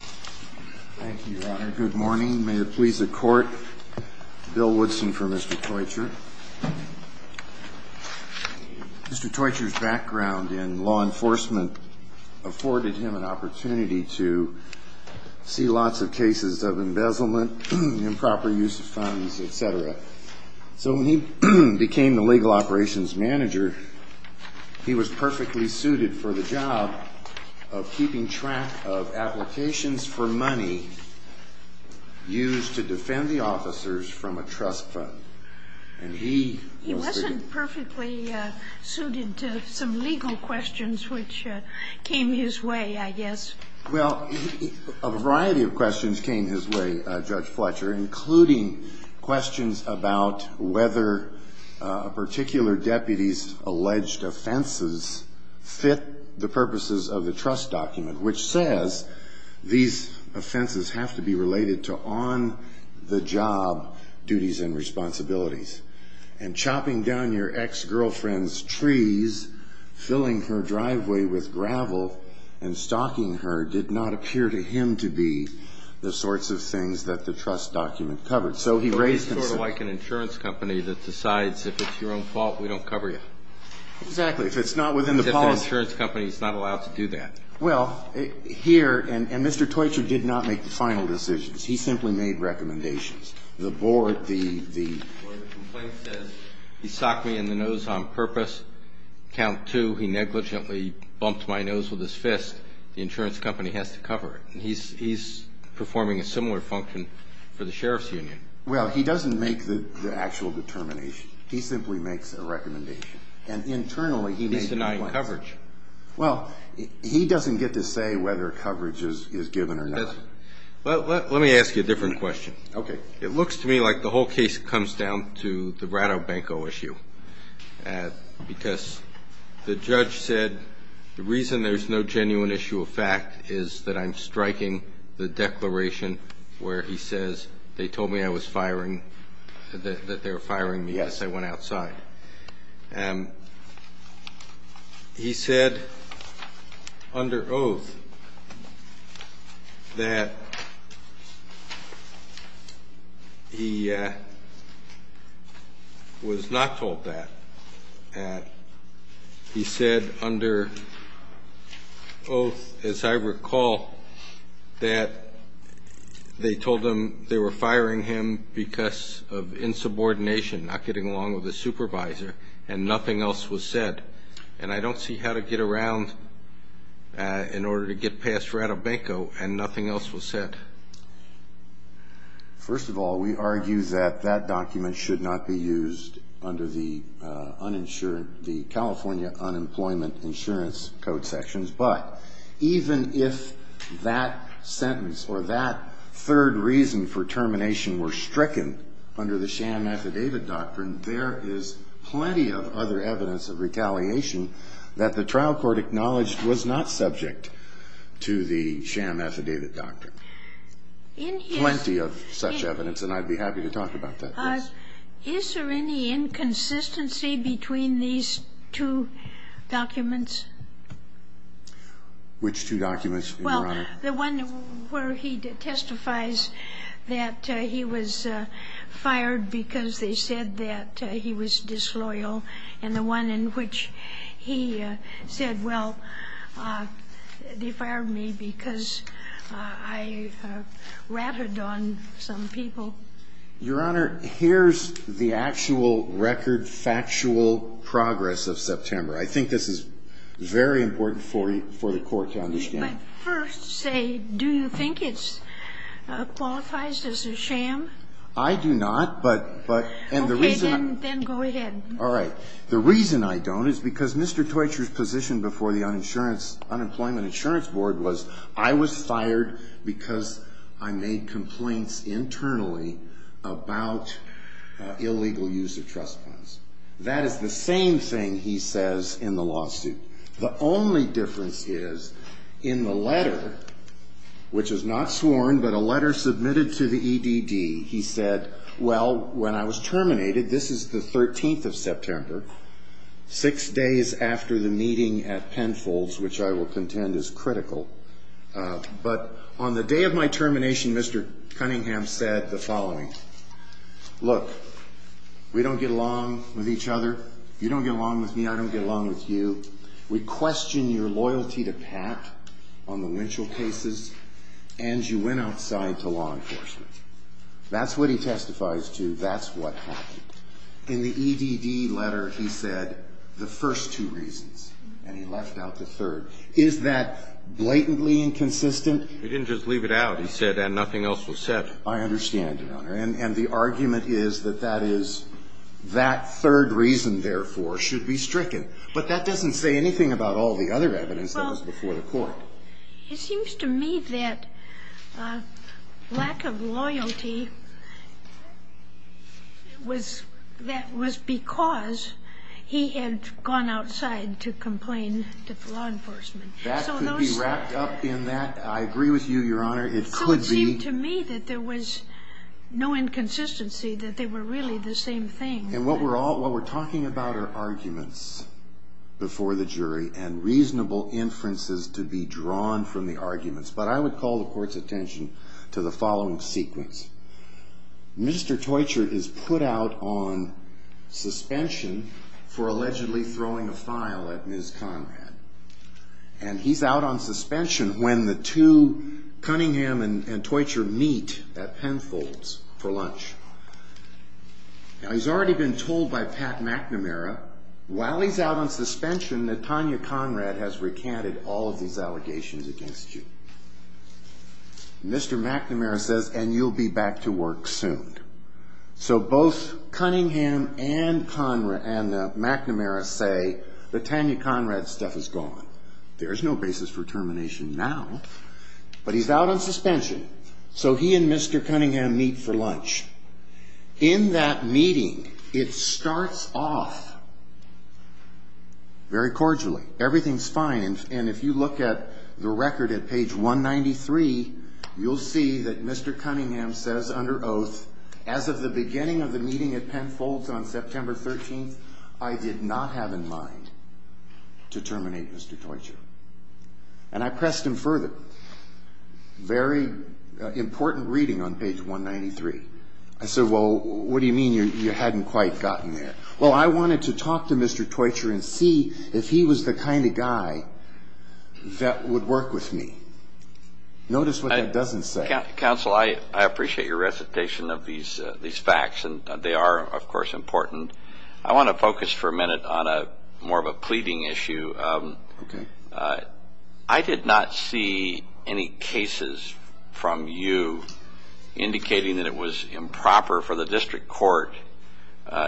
Thank you, Your Honor. Good morning. May it please the Court, Bill Woodson for Mr. Teutscher. Mr. Teutscher's background in law enforcement afforded him an opportunity to see lots of cases of embezzlement, improper use of funds, etc. So when he became the legal operations manager, he was perfectly suited for the job of keeping track of applications for money used to defend the officers from a trust fund. He wasn't perfectly suited to some legal questions which came his way, I guess. Well, a variety of questions came his way, Judge Fletcher, including questions about whether a particular deputy's alleged offenses fit the purposes of the trust document, which says these offenses have to be related to on-the-job duties and responsibilities. And chopping down your ex-girlfriend's trees, filling her driveway with gravel, and stalking her did not appear to him to be the sorts of things that the trust document covered. So he raised concerns. It's sort of like an insurance company that decides if it's your own fault, we don't cover you. Exactly. If it's not within the policy. Except the insurance company is not allowed to do that. Well, here, and Mr. Toitcher did not make the final decisions. He simply made recommendations. The board, the... Well, the complaint says he socked me in the nose on purpose. Count two, he negligently bumped my nose with his fist. The insurance company has to cover it. He's performing a similar function for the sheriff's union. Well, he doesn't make the actual determination. He simply makes a recommendation. And internally, he made... He's denying coverage. Well, he doesn't get to say whether coverage is given or not. Well, let me ask you a different question. Okay. It looks to me like the whole case comes down to the Ratobanco issue. Because the judge said the reason there's no genuine issue of fact is that I'm striking the declaration where he says they told me I was firing, that they were firing me because I went outside. He said under oath that he was not told that. He said under oath, as I recall, that they told him they were firing him because of insubordination, not getting along with the supervisor, and nothing else was said. And I don't see how to get around in order to get past Ratobanco and nothing else was said. First of all, we argue that that document should not be used under the California Unemployment Insurance Code sections. But even if that sentence or that third reason for termination were stricken under the sham affidavit doctrine, there is plenty of other evidence of retaliation that the trial court acknowledged was not subject to the sham affidavit doctrine. Plenty of such evidence, and I'd be happy to talk about that. Is there any inconsistency between these two documents? Which two documents, Your Honor? Well, the one where he testifies that he was fired because they said that he was disloyal, and the one in which he said, well, they fired me because I ratted on some people. Your Honor, here's the actual record, factual progress of September. I think this is very important for the court to understand. But first, say, do you think it qualifies as a sham? I do not, but the reason I don't is because Mr. Teutcher's position before the Unemployment Insurance Board was I was fired because I made complaints internally. That is the same thing he says in the lawsuit. The only difference is in the letter, which was not sworn, but a letter submitted to the EDD, he said, well, when I was terminated, this is the 13th of September, six days after the meeting at Penfold's, which I will contend is critical, but on the day of my termination, Mr. Cunningham said the following. Look, we don't get along with each other. You don't get along with me. I don't get along with you. We question your loyalty to Pat on the Winchell cases, and you went outside to law enforcement. That's what he testifies to. That's what happened. In the EDD letter, he said the first two reasons, and he left out the third. Is that blatantly inconsistent? He didn't just leave it out. He said, and nothing else was said. I understand, Your Honor, and the argument is that that third reason, therefore, should be stricken. But that doesn't say anything about all the other evidence that was before the court. It seems to me that lack of loyalty, that was because he had gone outside to complain to law enforcement. That could be wrapped up in that. I agree with you, Your Honor. So it seemed to me that there was no inconsistency, that they were really the same thing. And what we're talking about are arguments before the jury and reasonable inferences to be drawn from the arguments. But I would call the court's attention to the following sequence. Mr. Toitcher is put out on suspension for allegedly throwing a file at Ms. Conrad. And he's out on suspension when the two, Cunningham and Toitcher, meet at Penfold's for lunch. Now, he's already been told by Pat McNamara, while he's out on suspension, that Tanya Conrad has recanted all of these allegations against you. Mr. McNamara says, and you'll be back to work soon. So both Cunningham and McNamara say that Tanya Conrad's stuff is gone. There's no basis for termination now. But he's out on suspension, so he and Mr. Cunningham meet for lunch. In that meeting, it starts off very cordially. Everything's fine. And if you look at the record at page 193, you'll see that Mr. Cunningham says under oath, as of the beginning of the meeting at Penfold's on September 13th, I did not have in mind to terminate Mr. Toitcher. And I pressed him further. Very important reading on page 193. I said, well, what do you mean you hadn't quite gotten there? Well, I wanted to talk to Mr. Toitcher and see if he was the kind of guy that would work with me. Notice what that doesn't say. Counsel, I appreciate your recitation of these facts, and they are, of course, important. I want to focus for a minute on more of a pleading issue. Okay. I did not see any cases from you indicating that it was improper for the district court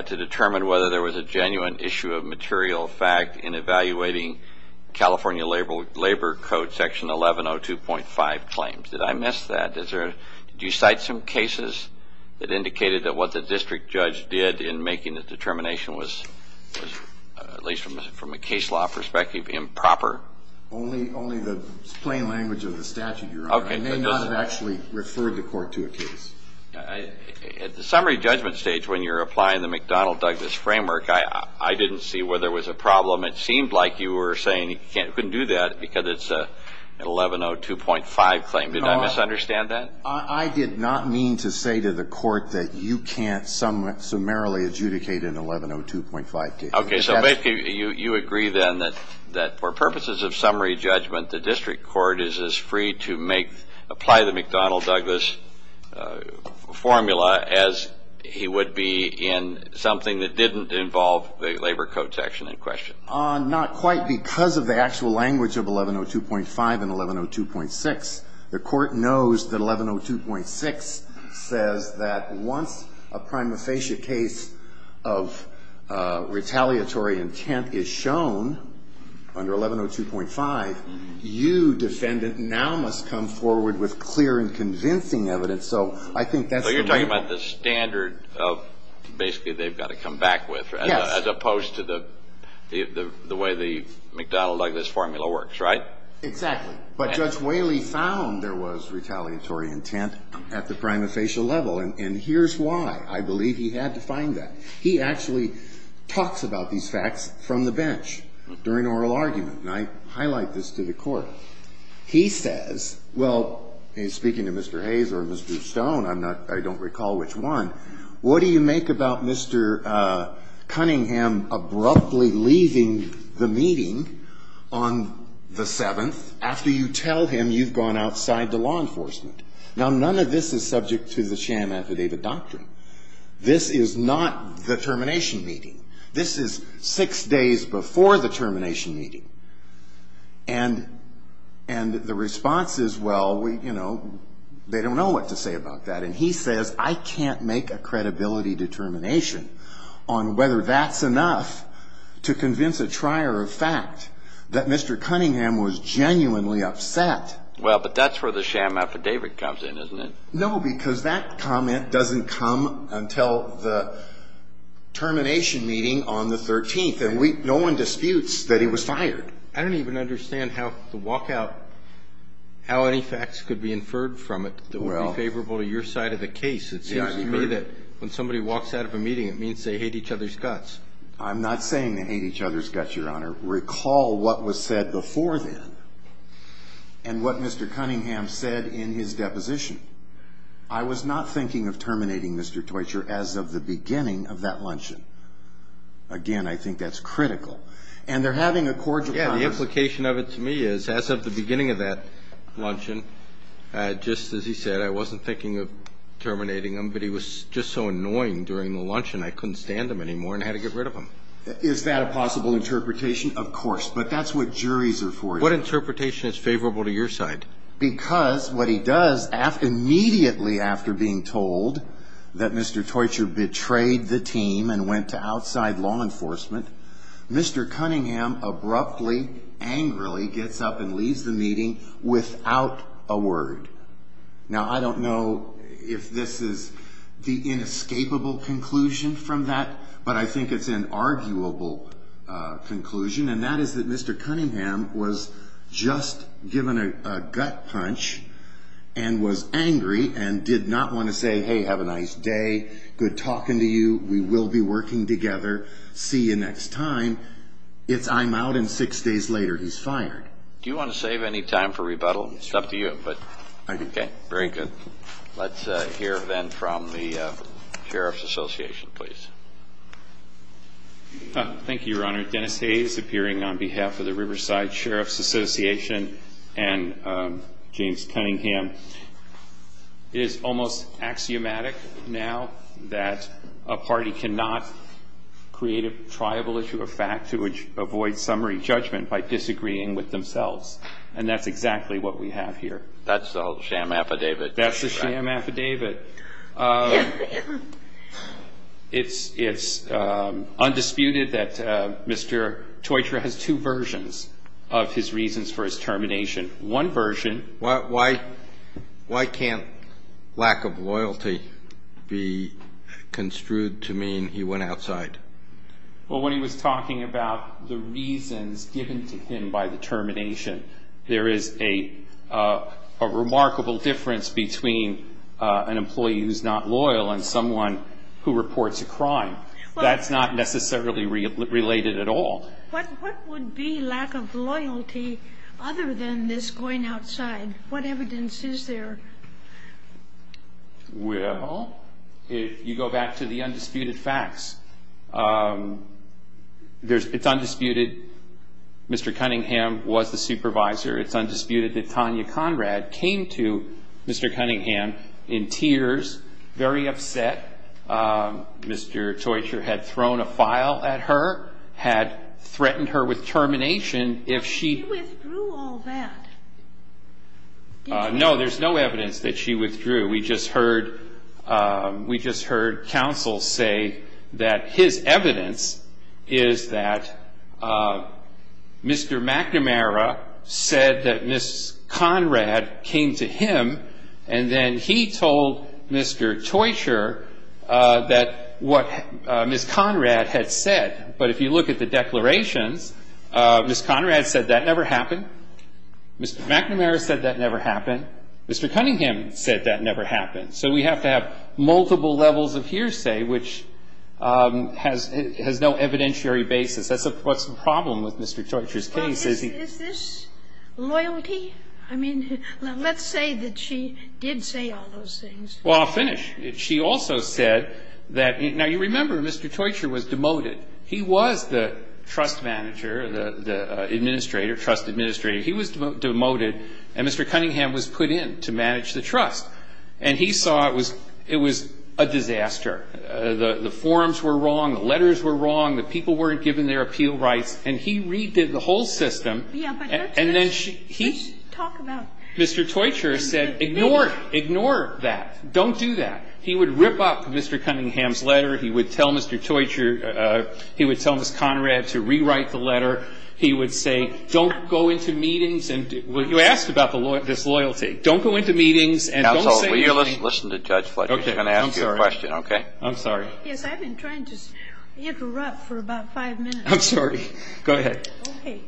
to determine whether there was a genuine issue of material fact in evaluating California Labor Code Section 1102.5 claims. Did I miss that? Did you cite some cases that indicated that what the district judge did in making the determination was, at least from a case law perspective, improper? Only the plain language of the statute, Your Honor. Okay. I may not have actually referred the court to a case. At the summary judgment stage when you're applying the McDonnell-Douglas framework, I didn't see where there was a problem. It seemed like you were saying you couldn't do that because it's an 1102.5 claim. Did I misunderstand that? I did not mean to say to the court that you can't summarily adjudicate an 1102.5 case. Okay. So basically you agree then that for purposes of summary judgment, the district court is as free to apply the McDonnell-Douglas formula as he would be in something that didn't involve the Labor Code Section in question. Not quite because of the actual language of 1102.5 and 1102.6. The court knows that 1102.6 says that once a prima facie case of retaliatory intent is shown under 1102.5, you, defendant, now must come forward with clear and convincing evidence. So I think that's the point. So you're talking about the standard of basically they've got to come back with. Yes. As opposed to the way the McDonnell-Douglas formula works, right? Exactly. But Judge Whaley found there was retaliatory intent at the prima facie level. And here's why. I believe he had to find that. He actually talks about these facts from the bench during oral argument. And I highlight this to the Court. He says, well, speaking to Mr. Hayes or Mr. Stone, I'm not, I don't recall which one, what do you make about Mr. Cunningham abruptly leaving the meeting on the 7th, after you tell him you've gone outside to law enforcement? Now, none of this is subject to the sham affidavit doctrine. This is not the termination meeting. This is six days before the termination meeting. And the response is, well, you know, they don't know what to say about that. And he says, I can't make a credibility determination on whether that's enough to convince a trier of fact that Mr. Cunningham was genuinely upset. Well, but that's where the sham affidavit comes in, isn't it? No, because that comment doesn't come until the termination meeting on the 13th. And no one disputes that he was fired. I don't even understand how the walkout, how any facts could be inferred from it that would be favorable to your side of the case. It seems to me that when somebody walks out of a meeting, it means they hate each other's guts. I'm not saying they hate each other's guts, Your Honor. Recall what was said before then and what Mr. Cunningham said in his deposition. I was not thinking of terminating Mr. Toitcher as of the beginning of that luncheon. Again, I think that's critical. And they're having a cordial conversation. Yeah, the implication of it to me is as of the beginning of that luncheon, just as he said, I wasn't thinking of terminating him, but he was just so annoying during the luncheon, I couldn't stand him anymore and had to get rid of him. Is that a possible interpretation? Of course. But that's what juries are for. What interpretation is favorable to your side? Because what he does immediately after being told that Mr. Toitcher betrayed the team and went to outside law enforcement, Mr. Cunningham abruptly, angrily gets up and leaves the meeting without a word. Now, I don't know if this is the inescapable conclusion from that, but I think it's an arguable conclusion, and that is that Mr. Cunningham was just given a gut punch and was angry and did not want to say, hey, have a nice day, good talking to you, we will be working together, see you next time. It's I'm out, and six days later, he's fired. Do you want to save any time for rebuttal? It's up to you. Okay. Very good. Let's hear, then, from the Sheriff's Association, please. Thank you, Your Honor. Dennis Hayes, appearing on behalf of the Riverside Sheriff's Association and James Cunningham. It is almost axiomatic now that a party cannot create a triable issue of fact to avoid summary judgment by disagreeing with themselves, and that's exactly what we have here. That's the whole sham affidavit. That's the sham affidavit. It's undisputed that Mr. Toitra has two versions of his reasons for his termination. One version. Why can't lack of loyalty be construed to mean he went outside? Well, when he was talking about the reasons given to him by the termination, there is a remarkable difference between an employee who's not loyal and someone who reports a crime. That's not necessarily related at all. What would be lack of loyalty other than this going outside? What evidence is there? Well, if you go back to the undisputed facts, it's undisputed Mr. Cunningham was the supervisor. It's undisputed that Tanya Conrad came to Mr. Cunningham in tears, very upset. Mr. Toitra had thrown a file at her, had threatened her with termination. She withdrew all that. No, there's no evidence that she withdrew. We just heard counsel say that his evidence is that Mr. McNamara said that Ms. Conrad came to him, and then he told Mr. Toitra that what Ms. Conrad had said. But if you look at the declarations, Ms. Conrad said that never happened. Mr. McNamara said that never happened. Mr. Cunningham said that never happened. So we have to have multiple levels of hearsay, which has no evidentiary basis. That's what's the problem with Mr. Toitra's case. Is this loyalty? I mean, let's say that she did say all those things. Well, I'll finish. She also said that now you remember Mr. Toitra was demoted. He was the trust manager, the administrator, trust administrator. He was demoted, and Mr. Cunningham was put in to manage the trust. And he saw it was a disaster. The forms were wrong. The letters were wrong. The people weren't given their appeal rights. And he redid the whole system. Yeah, but that's what we should talk about. Mr. Toitra said, ignore it. Ignore that. Don't do that. He would rip up Mr. Cunningham's letter. He would tell Mr. Toitra. He would tell Ms. Conrad to rewrite the letter. He would say, don't go into meetings. You asked about this loyalty. Don't go into meetings and don't say anything. Counsel, will you listen to Judge Fletcher? He's going to ask you a question, okay? I'm sorry. Yes, I've been trying to interrupt for about five minutes. I'm sorry. Go ahead. Okay.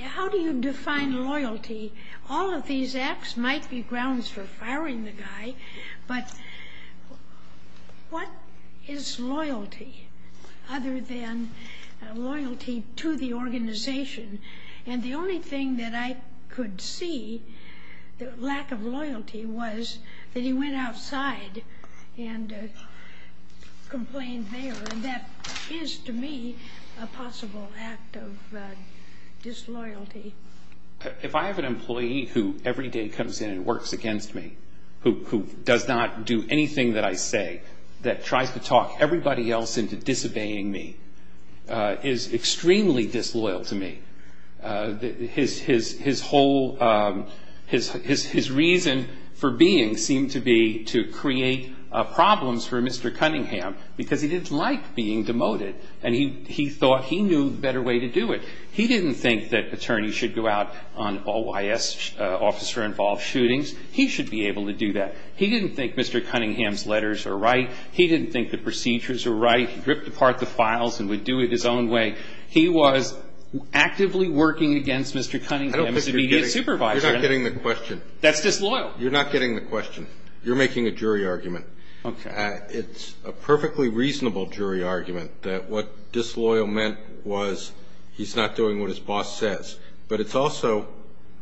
How do you define loyalty? All of these acts might be grounds for firing the guy, but what is loyalty other than loyalty to the organization? And the only thing that I could see, the lack of loyalty, was that he went outside and complained there. And that is, to me, a possible act of disloyalty. If I have an employee who every day comes in and works against me, who does not do anything that I say, that tries to talk everybody else into disobeying me, is extremely disloyal to me. His whole reason for being seemed to be to create problems for Mr. Cunningham because he didn't like being demoted, and he thought he knew a better way to do it. He didn't think that attorneys should go out on OIS officer-involved shootings. He should be able to do that. He didn't think Mr. Cunningham's letters were right. He didn't think the procedures were right. He ripped apart the files and would do it his own way. He was actively working against Mr. Cunningham as a media supervisor. You're not getting the question. That's disloyal. You're not getting the question. You're making a jury argument. Okay. It's a perfectly reasonable jury argument that what disloyal meant was he's not doing what his boss says. But it's also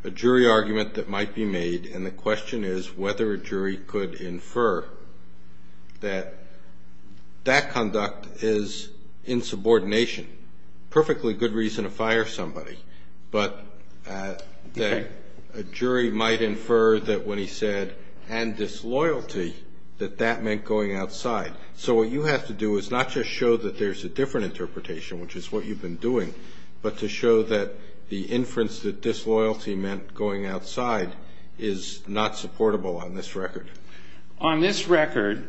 a jury argument that might be made, and the question is whether a jury could infer that that conduct is insubordination. Perfectly good reason to fire somebody, but a jury might infer that when he said, and disloyalty, that that meant going outside. So what you have to do is not just show that there's a different interpretation, which is what you've been doing, but to show that the inference that disloyalty meant going outside is not supportable on this record. On this record,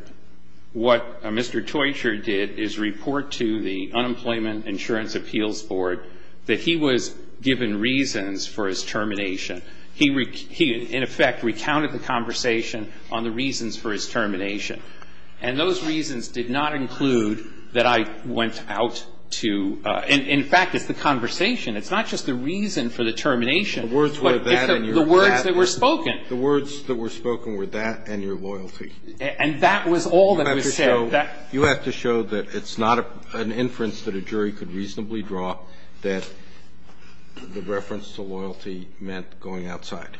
what Mr. Teutcher did is report to the Unemployment Insurance Appeals Board that he was given reasons for his termination. He, in effect, recounted the conversation on the reasons for his termination, and those reasons did not include that I went out to, in fact, it's the conversation. It's not just the reason for the termination. The words were that and your loyalty. The words that were spoken were that and your loyalty. And that was all that was said. You have to show that it's not an inference that a jury could reasonably draw, that the reference to loyalty meant going outside.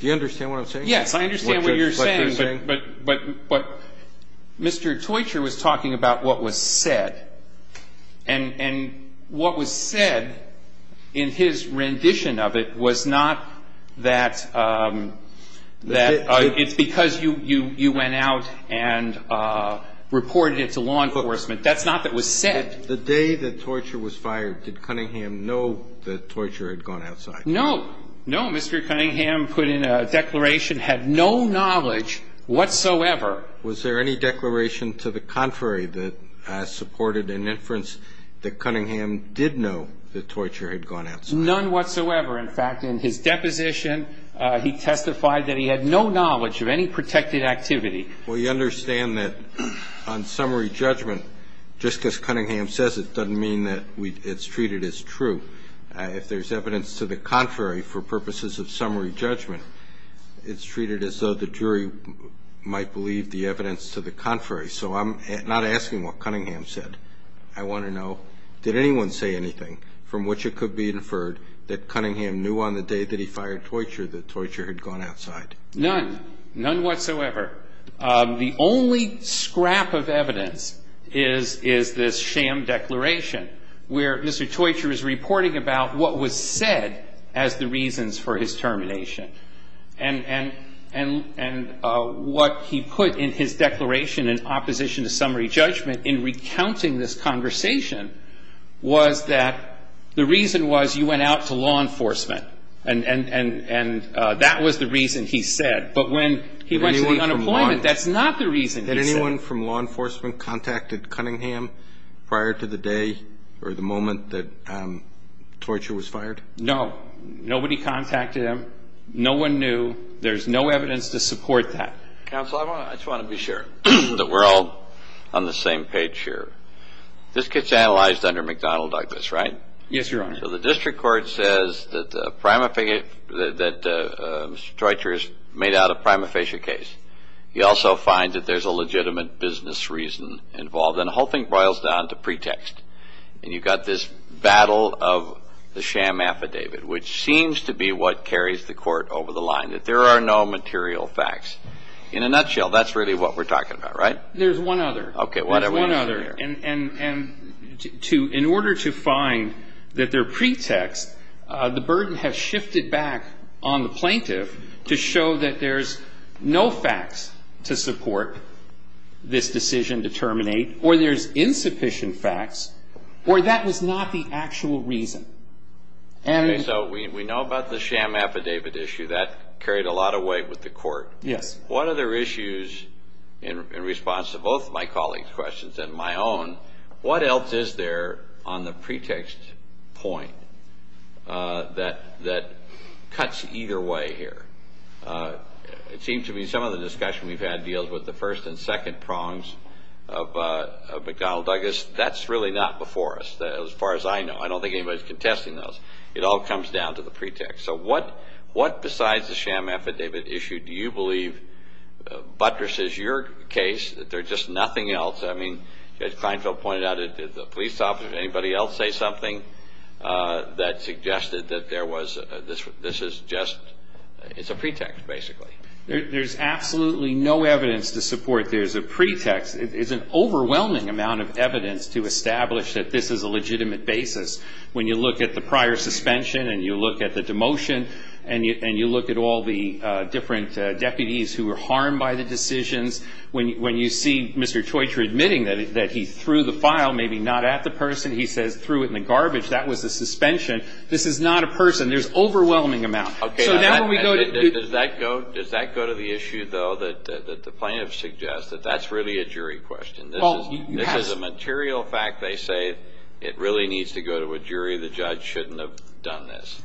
Do you understand what I'm saying? Yes, I understand what you're saying. But Mr. Teutcher was talking about what was said, and what was said in his rendition of it was not that it's because you went out and reported it to law enforcement. That's not what was said. The day that Teutcher was fired, did Cunningham know that Teutcher had gone outside? No. No, Mr. Cunningham put in a declaration, had no knowledge whatsoever. Was there any declaration to the contrary that supported an inference that Cunningham did know that Teutcher had gone outside? None whatsoever. In fact, in his deposition, he testified that he had no knowledge of any protected activity. Well, you understand that on summary judgment, just as Cunningham says, it doesn't mean that it's treated as true. If there's evidence to the contrary for purposes of summary judgment, it's treated as though the jury might believe the evidence to the contrary. So I'm not asking what Cunningham said. I want to know, did anyone say anything from which it could be inferred that Cunningham knew on the day that he fired Teutcher that Teutcher had gone outside? None. None whatsoever. The only scrap of evidence is this sham declaration where Mr. Teutcher is reporting about what was said as the reasons for his termination. And what he put in his declaration in opposition to summary judgment in recounting this conversation was that the reason was you went out to law enforcement. And that was the reason he said. But when he went to the unemployment, that's not the reason he said. Had anyone from law enforcement contacted Cunningham prior to the day or the moment that Teutcher was fired? No. Nobody contacted him. No one knew. There's no evidence to support that. Counsel, I just want to be sure that we're all on the same page here. This gets analyzed under McDonnell Douglas, right? Yes, Your Honor. So the district court says that Mr. Teutcher has made out a prima facie case. You also find that there's a legitimate business reason involved. And the whole thing boils down to pretext. And you've got this battle of the sham affidavit, which seems to be what carries the court over the line, that there are no material facts. In a nutshell, that's really what we're talking about, right? There's one other. Okay. There's one other. And in order to find that there are pretexts, the burden has shifted back on the plaintiff to show that there's no facts to support this decision to terminate, or there's insufficient facts, or that was not the actual reason. Okay. So we know about the sham affidavit issue. That carried a lot of weight with the court. Yes. One of the issues in response to both my colleagues' questions and my own, what else is there on the pretext point that cuts either way here? It seems to me some of the discussion we've had deals with the first and second prongs of McDonnell Douglas. That's really not before us. As far as I know. I don't think anybody's contesting those. It all comes down to the pretext. So what besides the sham affidavit issue do you believe buttresses your case? There's just nothing else. I mean, as Kleinfeld pointed out, did the police officer, did anybody else say something that suggested that this is just a pretext, basically? There's absolutely no evidence to support there's a pretext. It's an overwhelming amount of evidence to establish that this is a legitimate basis. When you look at the prior suspension and you look at the demotion and you look at all the different deputies who were harmed by the decisions, when you see Mr. Troitsch admitting that he threw the file, maybe not at the person. He says threw it in the garbage. That was the suspension. This is not a person. There's overwhelming amount. Okay. Does that go to the issue, though, that the plaintiff suggests, that that's really a jury question? This is a material fact. They say it really needs to go to a jury. The judge shouldn't have done this.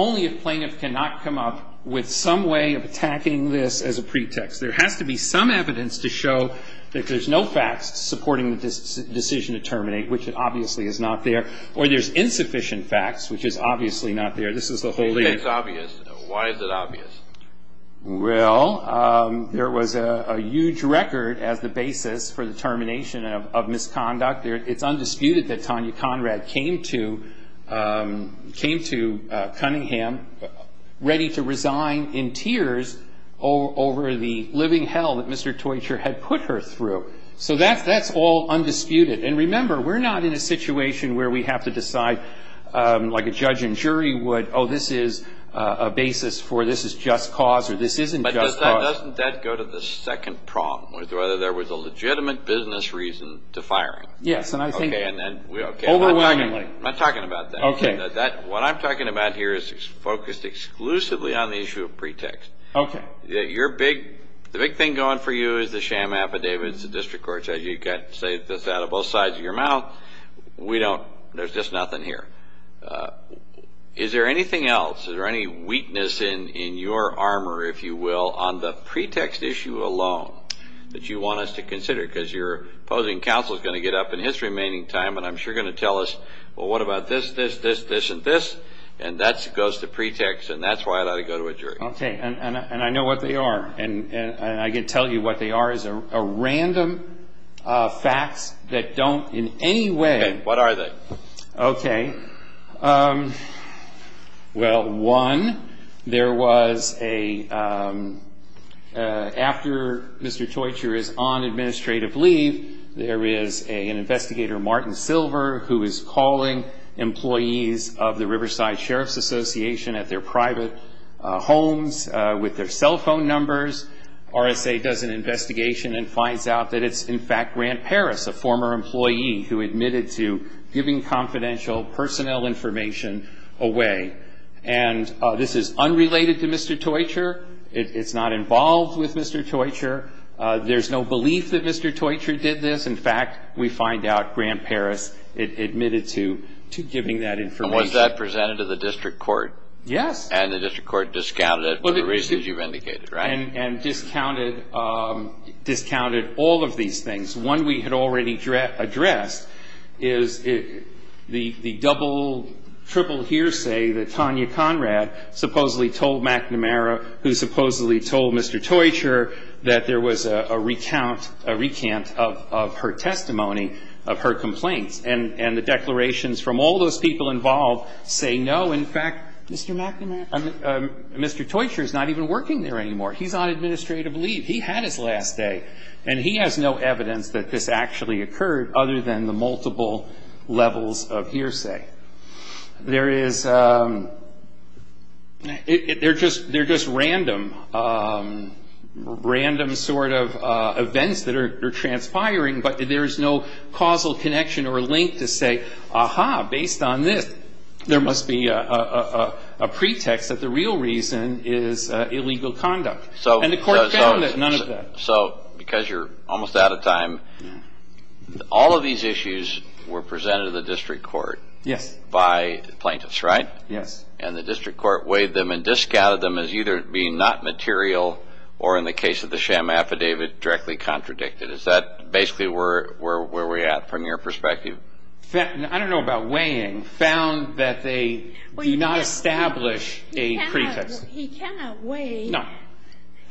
Only if plaintiff cannot come up with some way of attacking this as a pretext. There has to be some evidence to show that there's no facts supporting the decision to terminate, which obviously is not there. Or there's insufficient facts, which is obviously not there. This is the whole thing. It's obvious. Why is it obvious? Well, there was a huge record as the basis for the termination of misconduct. It's undisputed that Tanya Conrad came to Cunningham ready to resign in tears over the living hell that Mr. Troitsch had put her through. So that's all undisputed. And remember, we're not in a situation where we have to decide, like a judge and jury would, oh, this is a basis for this is just cause or this isn't just cause. But doesn't that go to the second problem with whether there was a legitimate business reason to fire him? Yes, and I think overwhelmingly. I'm not talking about that. Okay. What I'm talking about here is focused exclusively on the issue of pretext. Okay. The big thing going for you is the sham affidavits, the district courts. As you can say this out of both sides of your mouth, there's just nothing here. Is there anything else, is there any weakness in your armor, if you will, on the pretext issue alone that you want us to consider? Because your opposing counsel is going to get up in his remaining time and I'm sure going to tell us, well, what about this, this, this, this, and this? And that goes to pretext, and that's why it ought to go to a jury. Okay. And I know what they are, and I can tell you what they are is a random facts that don't in any way. Okay. What are they? Okay. Well, one, there was a, after Mr. Toitcher is on administrative leave, there is an investigator, Martin Silver, who is calling employees of the Riverside Sheriff's Association at their private homes with their cell phone numbers. RSA does an investigation and finds out that it's, in fact, Grant Paris, a former employee who admitted to giving confidential personnel information away. And this is unrelated to Mr. Toitcher. It's not involved with Mr. Toitcher. There's no belief that Mr. Toitcher did this. In fact, we find out Grant Paris admitted to giving that information. And was that presented to the district court? Yes. And the district court discounted it for the reasons you've indicated, right? And discounted all of these things. One we had already addressed is the double, triple hearsay that Tanya Conrad supposedly told McNamara, who supposedly told Mr. Toitcher that there was a recount, a recant of her testimony of her complaints. And the declarations from all those people involved say, no, in fact, Mr. McNamara, Mr. Toitcher is not even working there anymore. He's on administrative leave. He had his last day. And he has no evidence that this actually occurred other than the multiple levels of hearsay. There is, they're just random sort of events that are transpiring, but there's no causal connection or link to say, aha, based on this, there must be a pretext that the real reason is illegal conduct. And the court found none of that. So because you're almost out of time, all of these issues were presented to the district court. Yes. By plaintiffs, right? Yes. And the district court weighed them and discounted them as either being not material or in the case of the sham affidavit, directly contradicted. Is that basically where we're at from your perspective? I don't know about weighing. Found that they do not establish a pretext. He cannot weigh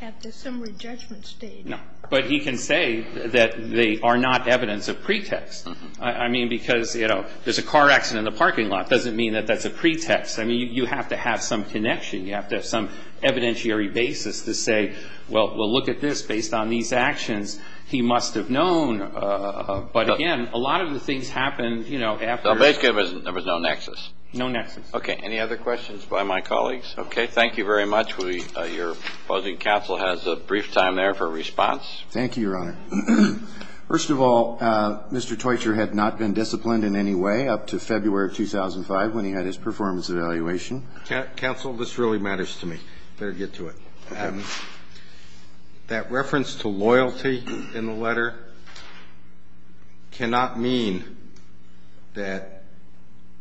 at the summary judgment stage. No. But he can say that they are not evidence of pretext. I mean, because, you know, there's a car accident in the parking lot doesn't mean that that's a pretext. I mean, you have to have some connection. You have to have some evidentiary basis to say, well, look at this. Based on these actions, he must have known. But, again, a lot of the things happened, you know, after. So basically there was no nexus. No nexus. Okay. Any other questions by my colleagues? Okay. Thank you very much. Your opposing counsel has a brief time there for a response. Thank you, Your Honor. First of all, Mr. Teutcher had not been disciplined in any way up to February of 2005 when he had his performance evaluation. Counsel, this really matters to me. Better get to it. Okay. That reference to loyalty in the letter cannot mean that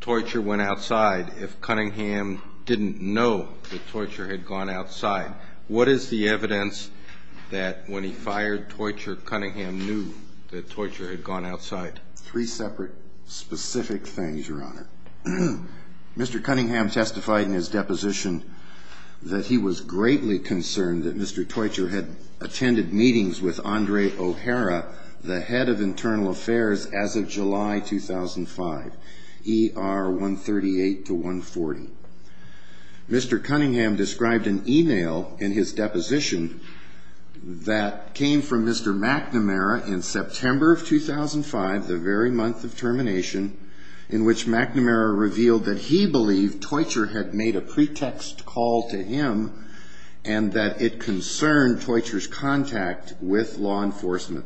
Teutcher went outside if Cunningham didn't know that Teutcher had gone outside. What is the evidence that when he fired Teutcher, Cunningham knew that Teutcher had gone outside? Three separate specific things, Your Honor. Mr. Cunningham testified in his deposition that he was greatly concerned that Mr. Teutcher had attended meetings with Andre O'Hara, the head of internal affairs, as of July 2005, ER 138 to 140. Mr. Cunningham described an e-mail in his deposition that came from Mr. McNamara in September of 2005, the very month of termination, in which McNamara revealed that he believed Teutcher had made a pretext call to him and that it concerned Teutcher's contact with law enforcement,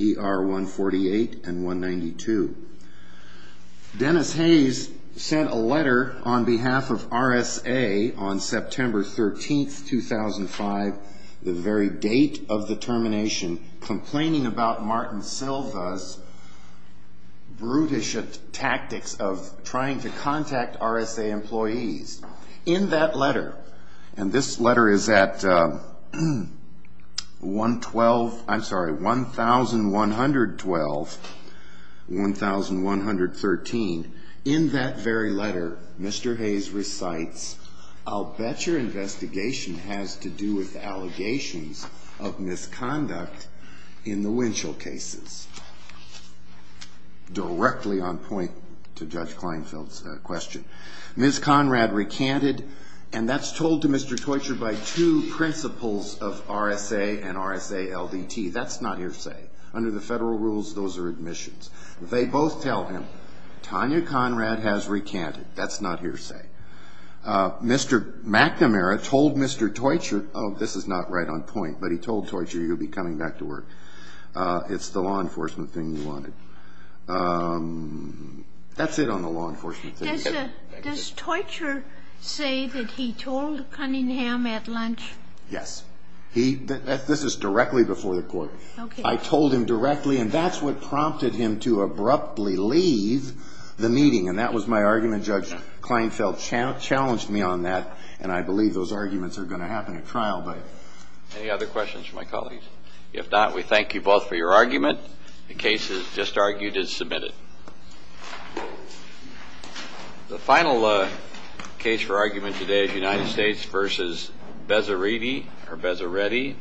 ER 148 and 192. Dennis Hayes sent a letter on behalf of RSA on September 13, 2005, the very date of the termination, complaining about Martin Silva's brutish tactics of trying to contact RSA employees. In that letter, and this letter is at 112, I'm sorry, 1112, 1113, in that very letter, Mr. Hayes recites, I'll bet your investigation has to do with allegations of misconduct in the Winchell cases, directly on point to Judge Kleinfeld's question. Ms. Conrad recanted, and that's told to Mr. Teutcher by two principals of RSA and RSA LDT. That's not hearsay. Under the federal rules, those are admissions. They both tell him, Tanya Conrad has recanted. That's not hearsay. Mr. McNamara told Mr. Teutcher, oh, this is not right on point, but he told Teutcher he'll be coming back to work. It's the law enforcement thing he wanted. That's it on the law enforcement thing. Does Teutcher say that he told Cunningham at lunch? Yes. This is directly before the Court. Okay. I told him directly, and that's what prompted him to abruptly leave the meeting, and that was my argument. Judge Kleinfeld challenged me on that, and I believe those arguments are going to happen at trial. Any other questions from my colleagues? If not, we thank you both for your argument. The case is just argued and submitted. The final case for argument today is United States v. Bezzeriti or Bezzeretti. Thank you.